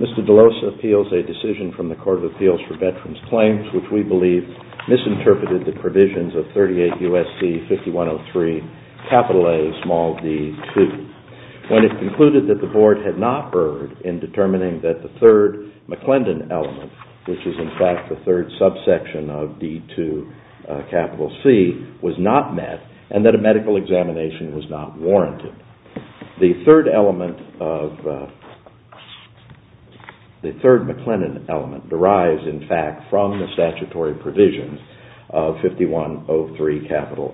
Mr. Delosa appeals a decision from the Court of Appeals for Veterans Claims which we believe misinterpreted the provisions of 38 U.S.C. 5103 A d2 when it concluded that the Board had not erred in determining that the 3rd McClendon element, which is in fact the 3rd subsection of d2 C, was not met and that a medical examination was not warranted. The 3rd McClendon element derives in fact from the statutory provisions of 5103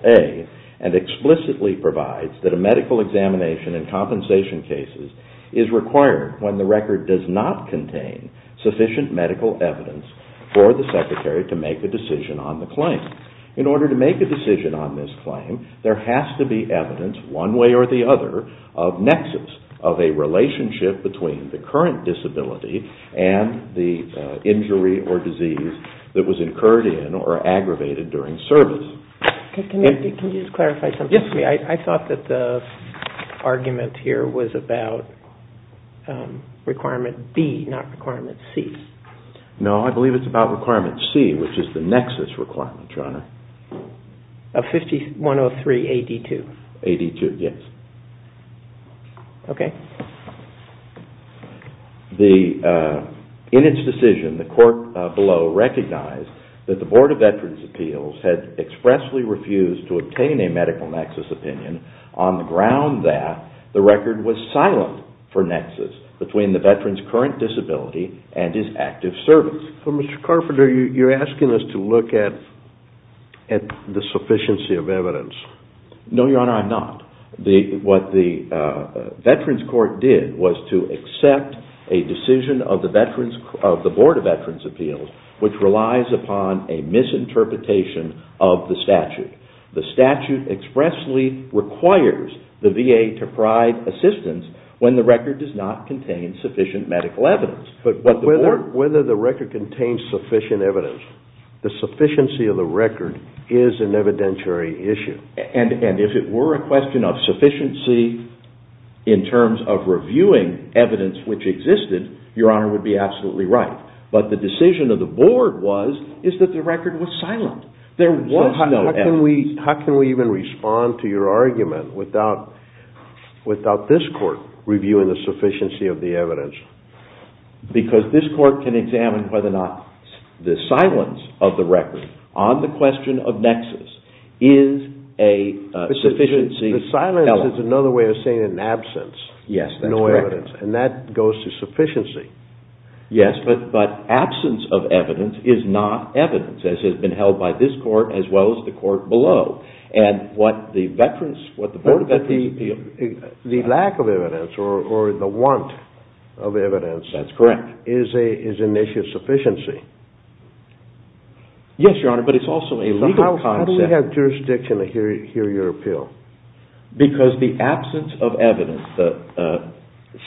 A and explicitly provides that a medical examination in compensation cases is required when the record does not contain sufficient medical evidence for the Secretary to make a decision on the claim. In order to make a decision on this claim, there has to be evidence one way or the other of nexus of a relationship between the current disability and the injury or disease that was incurred in or aggravated during service. Can you just clarify something for me? I thought that the argument here was about requirement B, not requirement C. No, I believe it's about requirement C, which is the nexus requirement, Your Honor. Of 5103 A d2? A d2, yes. Okay. In its decision, the court below recognized that the Board of Veterans' Appeals had expressly refused to obtain a medical nexus opinion on the ground that the record was silent for nexus between the veteran's current disability and his active service. Mr. Carpenter, you're asking us to look at the sufficiency of evidence. No, Your Honor, I'm not. What the Veterans Court did was to accept a decision of the Board of Veterans' Appeals, which relies upon a misinterpretation of the statute. The statute expressly requires the VA to provide assistance when the record does not contain sufficient medical evidence. But whether the record contains sufficient evidence, the sufficiency of the record is an evidentiary issue. And if it were a question of sufficiency in terms of reviewing evidence which existed, Your Honor would be absolutely right. But the decision of the Board was that the record was silent. How can we even respond to your argument without this court reviewing the sufficiency of the evidence? Because this court can examine whether or not the silence of the record on the question of nexus is a sufficiency element. The silence is another way of saying an absence. Yes, that's correct. No evidence. And that goes to sufficiency. Yes, but absence of evidence is not evidence, as has been held by this court as well as the court below. The lack of evidence or the want of evidence is an issue of sufficiency. Yes, Your Honor, but it's also a legal concept. How do we have jurisdiction to hear your appeal? Because the absence of evidence, the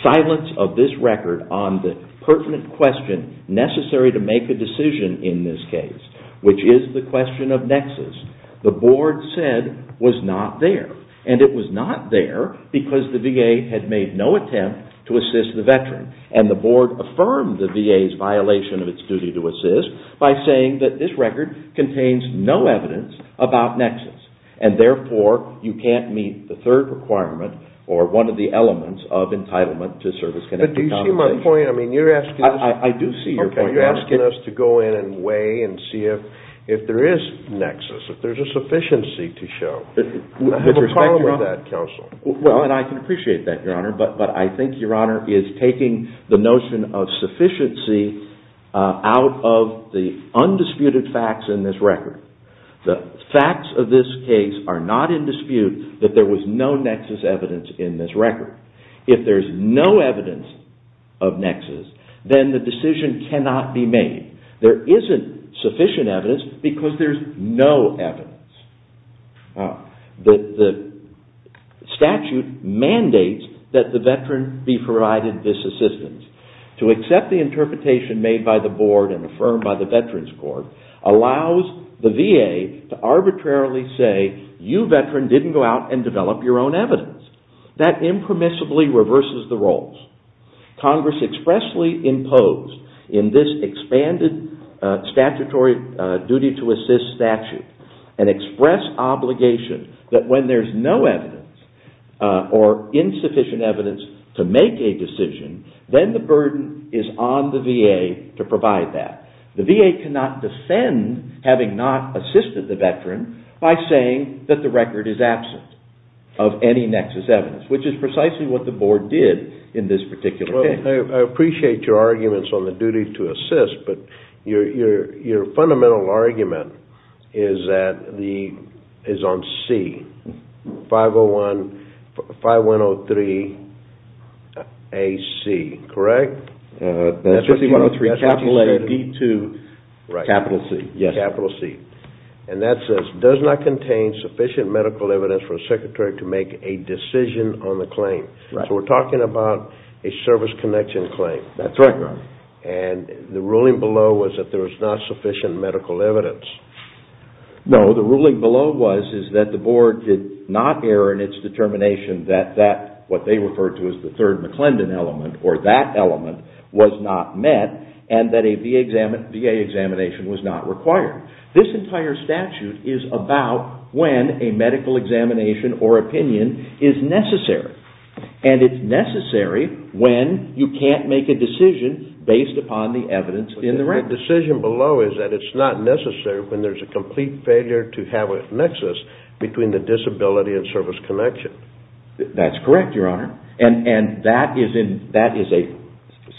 silence of this record on the pertinent question necessary to make a decision in this case, which is the question of nexus, the Board said was not there. And it was not there because the VA had made no attempt to assist the veteran. And the Board affirmed the VA's violation of its duty to assist by saying that this record contains no evidence about nexus. And therefore, you can't meet the third requirement or one of the elements of entitlement to service-connected compensation. But do you see my point? I mean, you're asking us to go in and weigh and see if there is nexus, if there's a sufficiency to show. I have a problem with that, counsel. Well, and I can appreciate that, Your Honor, but I think Your Honor is taking the notion of sufficiency out of the undisputed facts in this record. The facts of this case are not in dispute that there was no nexus evidence in this record. If there's no evidence of nexus, then the decision cannot be made. There isn't sufficient evidence because there's no evidence. The statute mandates that the veteran be provided this assistance. To accept the interpretation made by the Board and affirmed by the Veterans Court allows the VA to arbitrarily say, you veteran didn't go out and develop your own evidence. That impermissibly reverses the roles. Congress expressly imposed in this expanded statutory duty to assist statute an express obligation that when there's no evidence or insufficient evidence to make a decision, then the burden is on the VA to provide that. The VA cannot defend having not assisted the veteran by saying that the record is absent of any nexus evidence, which is precisely what the Board did in this particular case. I appreciate your arguments on the duty to assist, but your fundamental argument is on C. 5103AC, correct? 5103A-D2-C. That says, does not contain sufficient medical evidence for a secretary to make a decision on the claim. We're talking about a service connection claim. The ruling below was that there was not sufficient medical evidence. No, the ruling below was that the Board did not err in its determination that what they referred to as the third McClendon element or that element was not met and that a VA examination was not required. This entire statute is about when a medical examination or opinion is necessary. And it's necessary when you can't make a decision based upon the evidence in the record. The decision below is that it's not necessary when there's a complete failure to have a nexus between the disability and service connection. That's correct, Your Honor. And that is a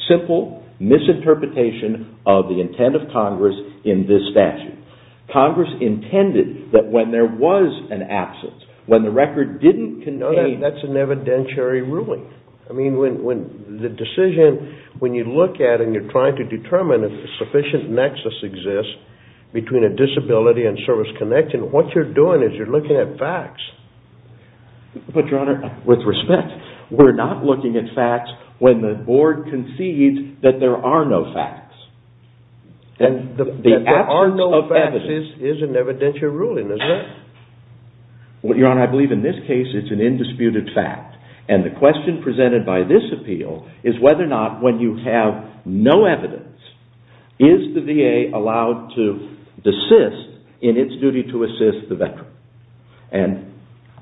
simple misinterpretation of the intent of Congress in this statute. Congress intended that when there was an absence, when the record didn't contain... No, that's an evidentiary ruling. The decision, when you look at it and you're trying to determine if a sufficient nexus exists between a disability and service connection, what you're doing is you're looking at facts. But, Your Honor, with respect, we're not looking at facts when the Board concedes that there are no facts. That there are no facts is an evidentiary ruling, isn't it? Your Honor, I believe in this case it's an indisputed fact. And the question presented by this appeal is whether or not when you have no evidence, is the VA allowed to desist in its duty to assist the veteran? And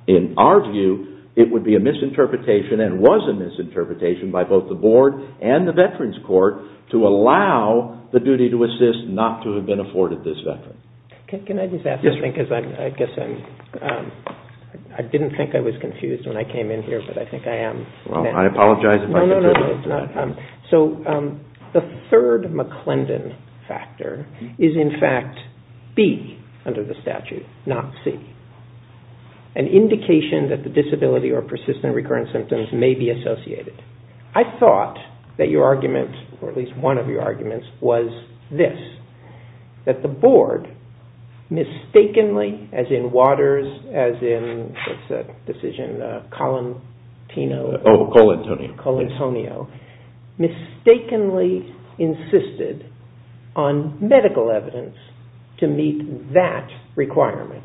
in our view, it would be a misinterpretation and was a misinterpretation by both the Board and the Veterans Court to allow the duty to assist not to have been afforded this veteran. Can I just ask this thing because I guess I'm... I didn't think I was confused when I came in here, but I think I am. Well, I apologize if I... So, the third McClendon factor is in fact B under the statute, not C. An indication that the disability or persistent recurrent symptoms may be associated. I thought that your argument, or at least one of your arguments, was this. That the Board mistakenly, as in Waters, as in, what's that decision? Colantino. Oh, Colantonio. Colantonio. Mistakenly insisted on medical evidence to meet that requirement.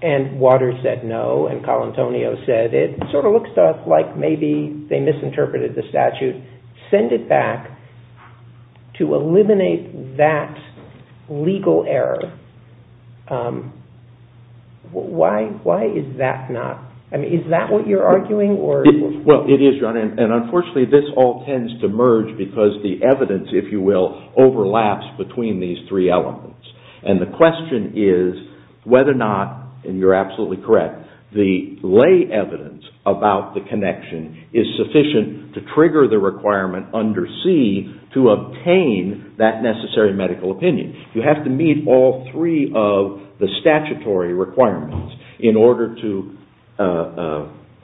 And Waters said no, and Colantonio said it sort of looks like maybe they misinterpreted the statute. Send it back to eliminate that legal error. Why is that not... I mean, is that what you're arguing? Well, it is, Your Honor, and unfortunately this all tends to merge because the evidence, if you will, overlaps between these three elements. And the question is whether or not, and you're absolutely correct, the lay evidence about the connection is sufficient to trigger the requirement under C to obtain that necessary medical opinion. You have to meet all three of the statutory requirements in order to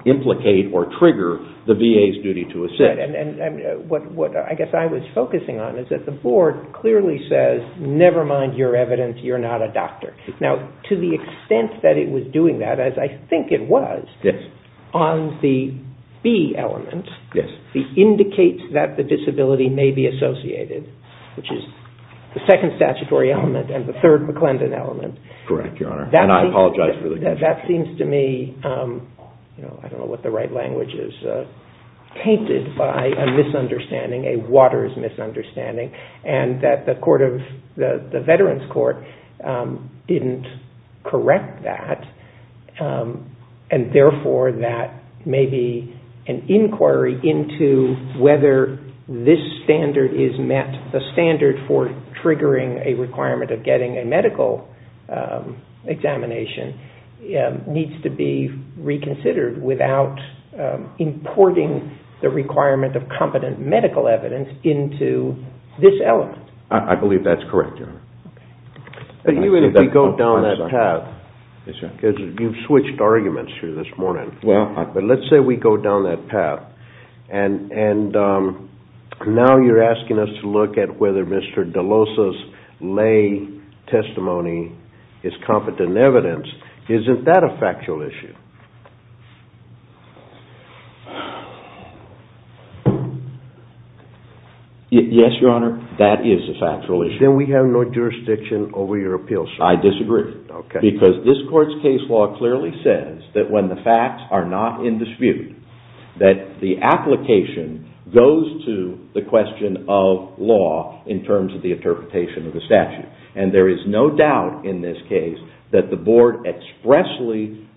implicate or trigger the VA's duty to assist. And what I guess I was focusing on is that the Board clearly says, never mind your evidence, you're not a doctor. Now, to the extent that it was doing that, as I think it was, on the B element, it indicates that the disability may be associated, which is the second statutory element and the third McClendon element. Correct, Your Honor, and I apologize for the confusion. That seems to me, I don't know what the right language is, tainted by a misunderstanding, a Waters misunderstanding, and that the Veterans Court didn't correct that, and therefore that maybe an inquiry into whether this standard is met, the standard for triggering a requirement of getting a medical examination, needs to be reconsidered without importing the requirement of competent medical evidence into this element. I believe that's correct, Your Honor. But even if we go down that path, because you've switched arguments here this morning, but let's say we go down that path, and now you're asking us to look at whether Mr. DeLosa's lay testimony is competent evidence. Isn't that a factual issue? Yes, Your Honor, that is a factual issue. Then we have no jurisdiction over your appeals. I disagree. Because this Court's case law clearly says that when the facts are not in dispute, that the application goes to the question of law in terms of the interpretation of the statute. And there is no doubt in this case that the Board expressly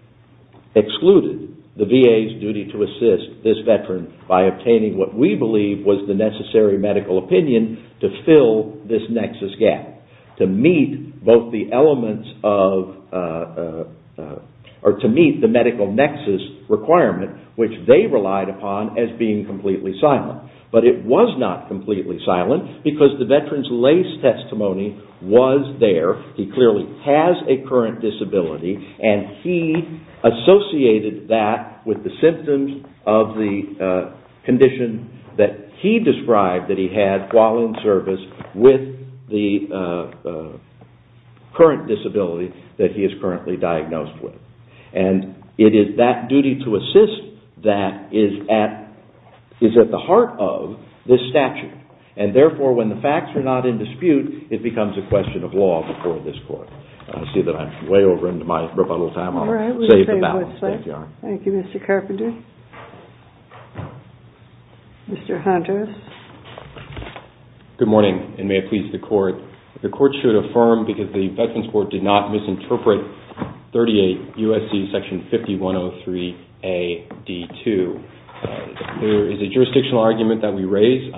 excluded the VA's duty to assist this Veteran by obtaining what we believe was the necessary medical opinion to fill this nexus gap, to meet both the elements of, or to meet the medical nexus requirement, which they relied upon as being completely silent. But it was not completely silent because the Veteran's lay testimony was there. He clearly has a current disability, and he associated that with the symptoms of the condition that he described that he had while in service with the current disability that he is currently diagnosed with. And it is that duty to assist that is at the heart of this statute. And therefore, when the facts are not in dispute, it becomes a question of law before this Court. I see that I'm way over into my rebuttal time. I'll save the balance. Thank you, Mr. Carpenter. Mr. Hunter. Good morning, and may it please the Court. The Court should affirm because the Veterans' Court did not misinterpret 38 U.S.C. Section 5103a.d.2. There is a jurisdictional argument that we raise.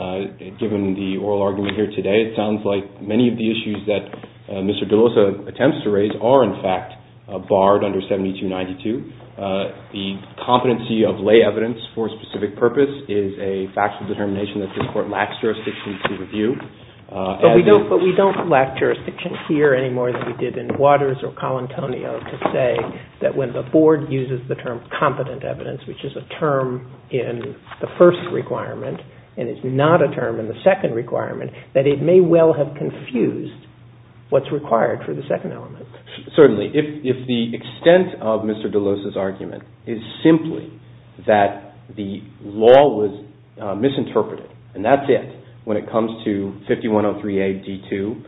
Given the oral argument here today, it sounds like many of the issues that Mr. DeLosa attempts to raise are, in fact, barred under 7292. The competency of lay evidence for a specific purpose is a factual determination that this Court lacks jurisdiction to review. But we don't lack jurisdiction here any more than we did in Waters or Colantonio to say that when the Board uses the term competent evidence, which is a term in the first requirement and is not a term in the second requirement, that it may well have confused what's required for the second element. Certainly. If the extent of Mr. DeLosa's argument is simply that the law was misinterpreted, and that's it when it comes to 5103a.d.2,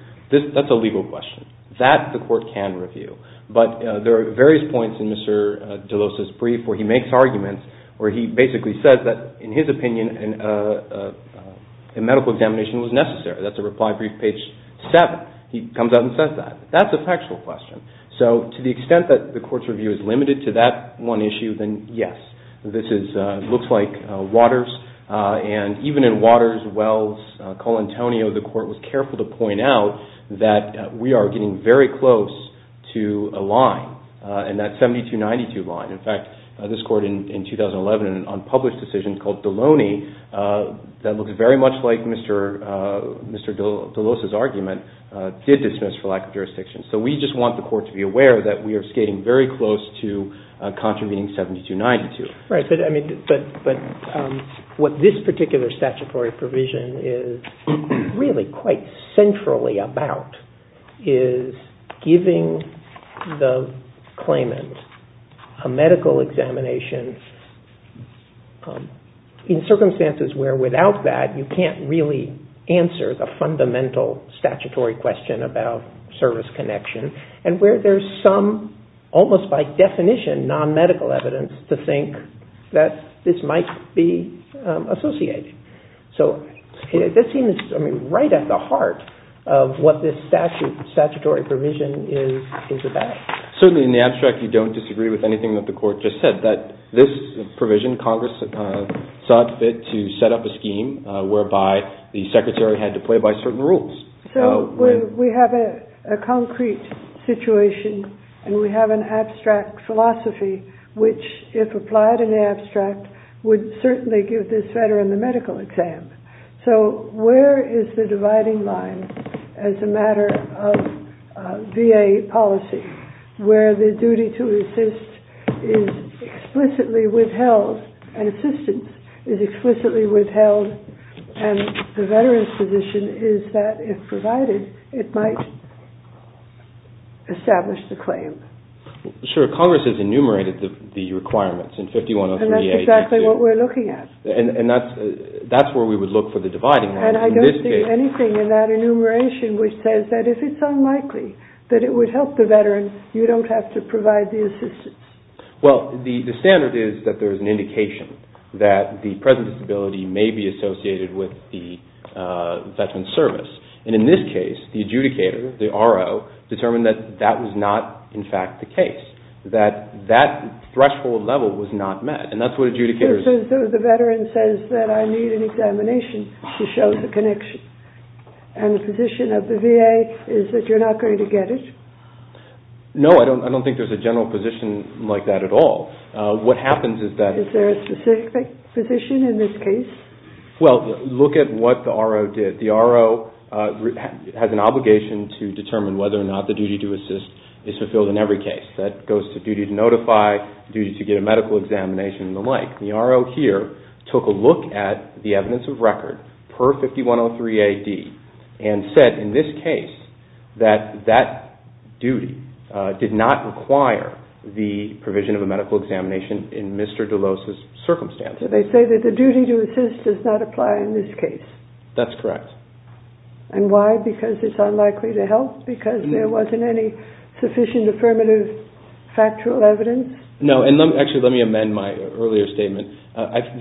that's a legal question. That the Court can review. But there are various points in Mr. DeLosa's brief where he makes arguments, where he basically says that, in his opinion, a medical examination was necessary. That's a reply brief, page 7. He comes out and says that. That's a factual question. So to the extent that the Court's review is limited to that one issue, then yes, this looks like Waters. And even in Waters, Wells, Colantonio, the Court was careful to point out that we are getting very close to a line, and that 7292 line. In fact, this Court in 2011, in an unpublished decision called Deloney, that looks very much like Mr. DeLosa's argument, did dismiss for lack of jurisdiction. So we just want the Court to be aware that we are skating very close to contravening 7292. Right, but what this particular statutory provision is really quite centrally about is giving the claimant a medical examination in circumstances where, without that, you can't really answer the fundamental statutory question about service connection, and where there's some, almost by definition, non-medical evidence to think that this might be associated. So this seems right at the heart of what this statutory provision is about. Certainly, in the abstract, you don't disagree with anything that the Court just said, that this provision, Congress sought to set up a scheme whereby the Secretary had to play by certain rules. So we have a concrete situation, and we have an abstract philosophy, which, if applied in the abstract, would certainly give this veteran the medical exam. So where is the dividing line as a matter of VA policy, where the duty to assist is explicitly withheld, and assistance is explicitly withheld, and the veteran's position is that, if provided, it might establish the claim? Sure. Congress has enumerated the requirements in 5103A. And that's exactly what we're looking at. And that's where we would look for the dividing line. And I don't see anything in that enumeration which says that, if it's unlikely, that it would help the veteran, you don't have to provide the assistance. Well, the standard is that there is an indication that the present disability may be associated with the veteran's service. And in this case, the adjudicator, the RO, determined that that was not, in fact, the case, that that threshold level was not met. And that's what adjudicators... So the veteran says that I need an examination to show the connection. And the position of the VA is that you're not going to get it? No, I don't think there's a general position like that at all. What happens is that... Is there a specific position in this case? Well, look at what the RO did. The RO has an obligation to determine whether or not the duty to assist is fulfilled in every case. That goes to duty to notify, duty to get a medical examination, and the like. The RO here took a look at the evidence of record per 5103A.D. and said, in this case, that that duty did not require the provision of a medical examination in Mr. DeLose's circumstances. So they say that the duty to assist does not apply in this case? That's correct. And why? Because it's unlikely to help? Because there wasn't any sufficient affirmative factual evidence? No, and actually, let me amend my earlier statement.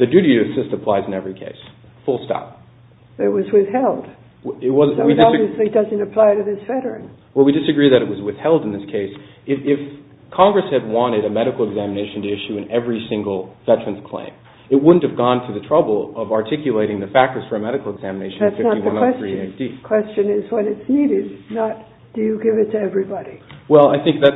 The duty to assist applies in every case, full stop. It was withheld. So it obviously doesn't apply to this veteran. Well, we disagree that it was withheld in this case. If Congress had wanted a medical examination to issue in every single veteran's claim, it wouldn't have gone to the trouble of articulating the factors for a medical examination in 5103A.D. That's not the question. The question is what is needed, not do you give it to everybody? Well, I think that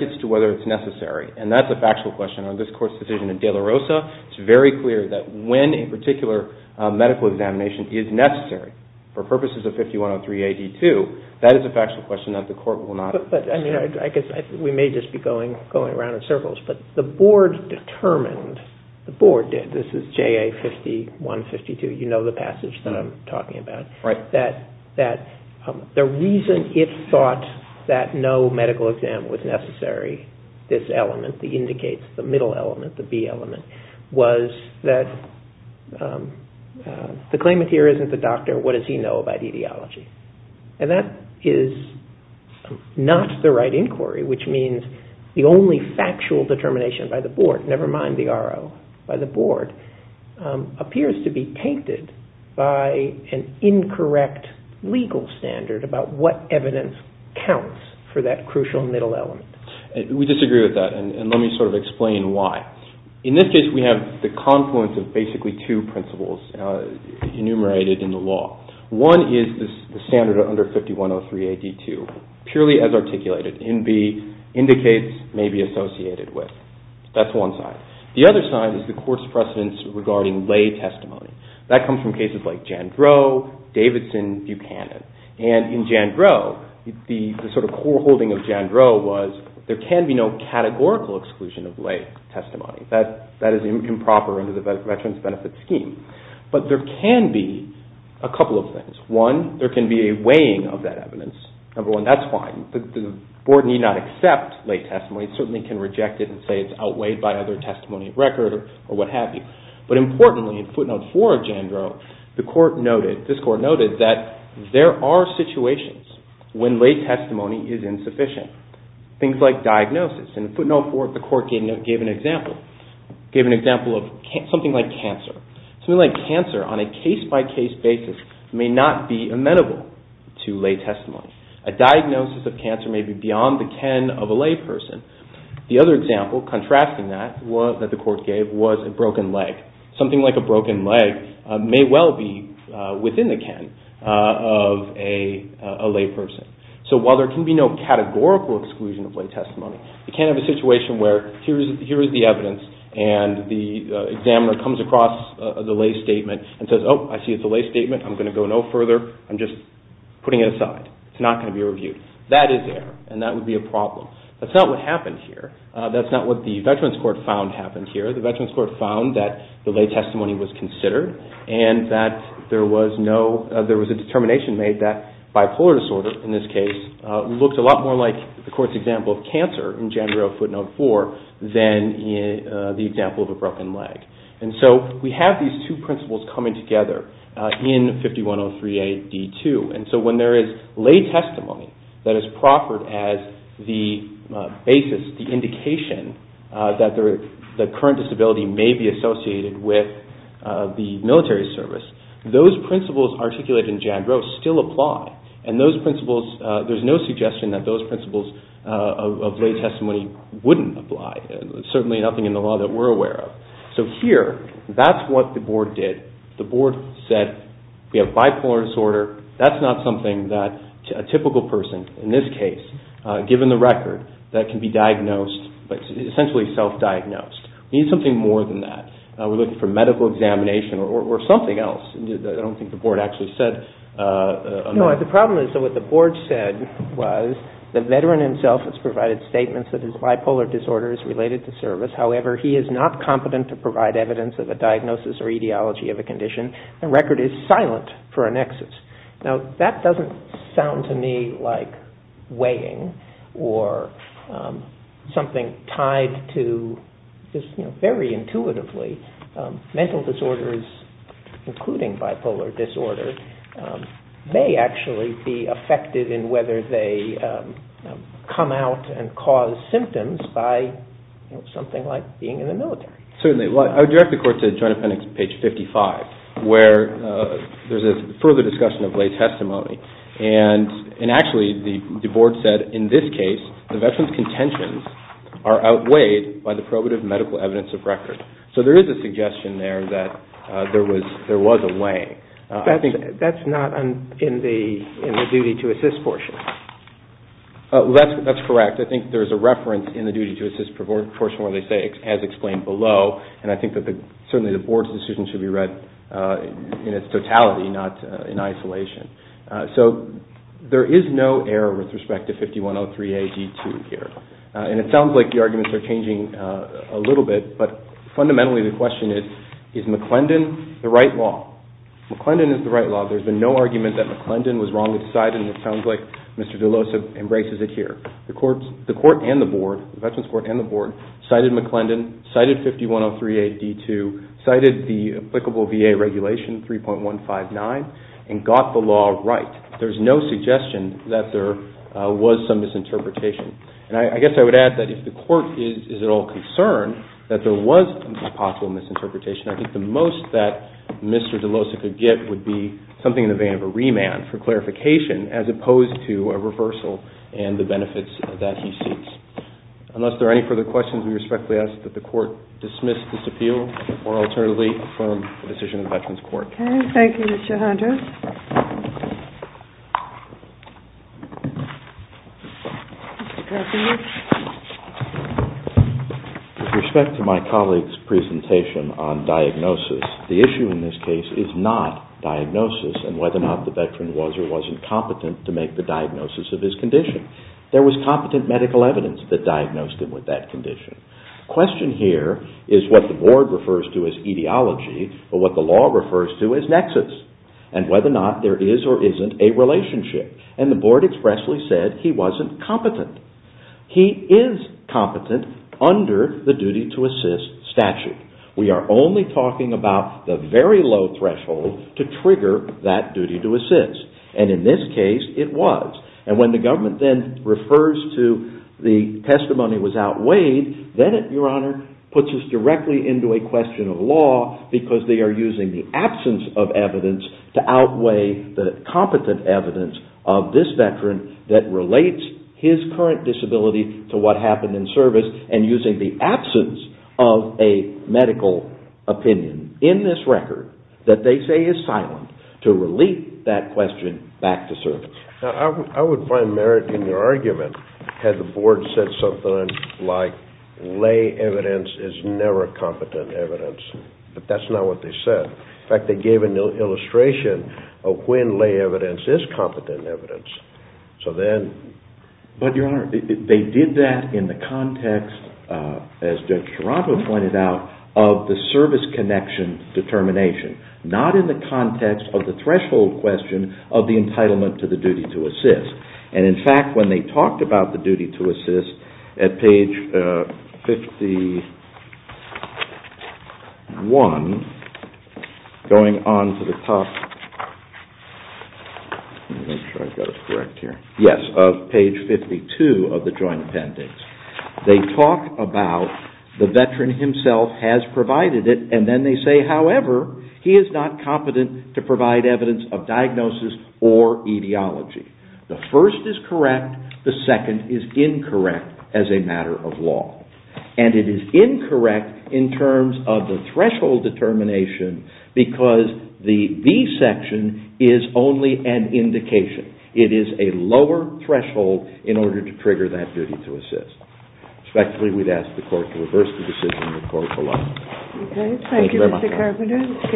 gets to whether it's necessary, and that's a factual question. On this Court's decision in De La Rosa, it's very clear that when a particular medical examination is necessary for purposes of 5103A.D. too, that is a factual question that the Court will not address. But, I mean, I guess we may just be going around in circles, but the Board determined, the Board did, this is JA 5152, you know the passage that I'm talking about, that the reason it thought that no medical exam was necessary, this element that indicates the middle element, the B element, was that the claimant here isn't the doctor, what does he know about etiology? And that is not the right inquiry, which means the only factual determination by the Board, never mind the RO, by the Board, appears to be tainted by an incorrect legal standard about what evidence counts for that crucial middle element. We disagree with that, and let me sort of explain why. In this case, we have the confluence of basically two principles enumerated in the law. One is the standard of under 5103A.D. too, purely as articulated, in the indicates may be associated with, that's one side. The other side is the Court's precedence regarding lay testimony. That comes from cases like Jandreau, Davidson, Buchanan. And in Jandreau, the sort of core holding of Jandreau was, there can be no categorical exclusion of lay testimony. That is improper under the Veterans Benefit Scheme. But there can be a couple of things. One, there can be a weighing of that evidence. Number one, that's fine. The Board need not accept lay testimony. It certainly can reject it and say it's outweighed by other testimony of record or what have you. But importantly, in footnote four of Jandreau, the Court noted, this Court noted that there are situations when lay testimony is insufficient. Things like diagnosis. In footnote four, the Court gave an example of something like cancer. Something like cancer on a case-by-case basis may not be amenable to lay testimony. A diagnosis of cancer may be beyond the ken of a lay person. The other example contrasting that that the Court gave was a broken leg. Something like a broken leg may well be within the ken of a lay person. So while there can be no categorical exclusion of lay testimony, you can't have a situation where here is the evidence, and the examiner comes across the lay statement and says, oh, I see it's a lay statement. I'm going to go no further. I'm just putting it aside. It's not going to be reviewed. That is error, and that would be a problem. That's not what happened here. That's not what the Veterans Court found happened here. The Veterans Court found that the lay testimony was considered, and that there was a determination made that bipolar disorder, in this case, looked a lot more like the Court's example of cancer in Jandreau footnote four than the example of a broken leg. And so we have these two principles coming together in 5103a.d.2. And so when there is lay testimony that is proffered as the basis, the indication that the current disability may be associated with the military service, those principles articulated in Jandreau still apply, and there's no suggestion that those principles of lay testimony wouldn't apply. There's certainly nothing in the law that we're aware of. So here, that's what the Board did. The Board said we have bipolar disorder. That's not something that a typical person, in this case, given the record, that can be diagnosed, essentially self-diagnosed. We need something more than that. We're looking for medical examination or something else. I don't think the Board actually said. No, the problem is that what the Board said was the Veteran himself has provided statements that his bipolar disorder is related to service. However, he is not competent to provide evidence of a diagnosis or etiology of a condition. The record is silent for annexes. Now, that doesn't sound to me like weighing or something tied to just very intuitively. Mental disorders, including bipolar disorder, may actually be affected in whether they come out and cause symptoms by something like being in the military. Certainly. I would direct the Court to Joint Appendix, page 55, where there's a further discussion of lay testimony. And actually, the Board said in this case, the Veteran's contentions are outweighed by the probative medical evidence of record. So there is a suggestion there that there was a weighing. That's not in the duty-to-assist portion. That's correct. I think there's a reference in the duty-to-assist portion where they say, as explained below, and I think that certainly the Board's decision should be read in its totality, not in isolation. So there is no error with respect to 5103A-D2 here. And it sounds like the arguments are changing a little bit, but fundamentally the question is, is McClendon the right law? McClendon is the right law. There's been no argument that McClendon was wrongly decided, and it sounds like Mr. DeLosa embraces it here. The Court and the Board, the Veterans Court and the Board, cited McClendon, cited 5103A-D2, cited the applicable VA regulation, 3.159, and got the law right. There's no suggestion that there was some misinterpretation. And I guess I would add that if the Court is at all concerned that there was a possible misinterpretation, I think the most that Mr. DeLosa could get would be something in the vein of a remand for clarification as opposed to a reversal and the benefits that he seeks. Unless there are any further questions, we respectfully ask that the Court dismiss this appeal or alternatively affirm the decision of the Veterans Court. Okay. Thank you, Mr. Hunter. With respect to my colleague's presentation on diagnosis, the issue in this case is not diagnosis and whether or not the Veteran was or wasn't competent to make the diagnosis of his condition. There was competent medical evidence that diagnosed him with that condition. The question here is what the Board refers to as etiology, And for me, the question is, and whether or not there is or isn't a relationship. And the Board expressly said he wasn't competent. He is competent under the duty-to-assist statute. We are only talking about the very low threshold to trigger that duty-to-assist. And in this case, it was. And when the government then refers to the testimony was outweighed, then it, Your Honor, puts us directly into a question of law because they are using the absence of evidence to outweigh the competent evidence of this Veteran that relates his current disability to what happened in service and using the absence of a medical opinion in this record that they say is silent to relate that question back to service. I would find merit in your argument had the Board said something like lay evidence is never competent evidence. But that's not what they said. In fact, they gave an illustration of when lay evidence is competent evidence. So then... But, Your Honor, they did that in the context, as Judge Sharapo pointed out, of the service connection determination, not in the context of the threshold question of the entitlement to the duty-to-assist. And in fact, when they talked about the duty-to-assist at page 51, going on to the top... Let me make sure I've got it correct here. Yes, of page 52 of the Joint Appendix. They talk about the Veteran himself has provided it and then they say, however, he is not competent to provide evidence of diagnosis or etiology. The first is correct. The second is incorrect as a matter of law. And it is incorrect in terms of the threshold determination because the B section is only an indication. It is a lower threshold in order to trigger that duty-to-assist. Respectfully, we'd ask the Court to reverse the decision and the Court will up. Thank you very much.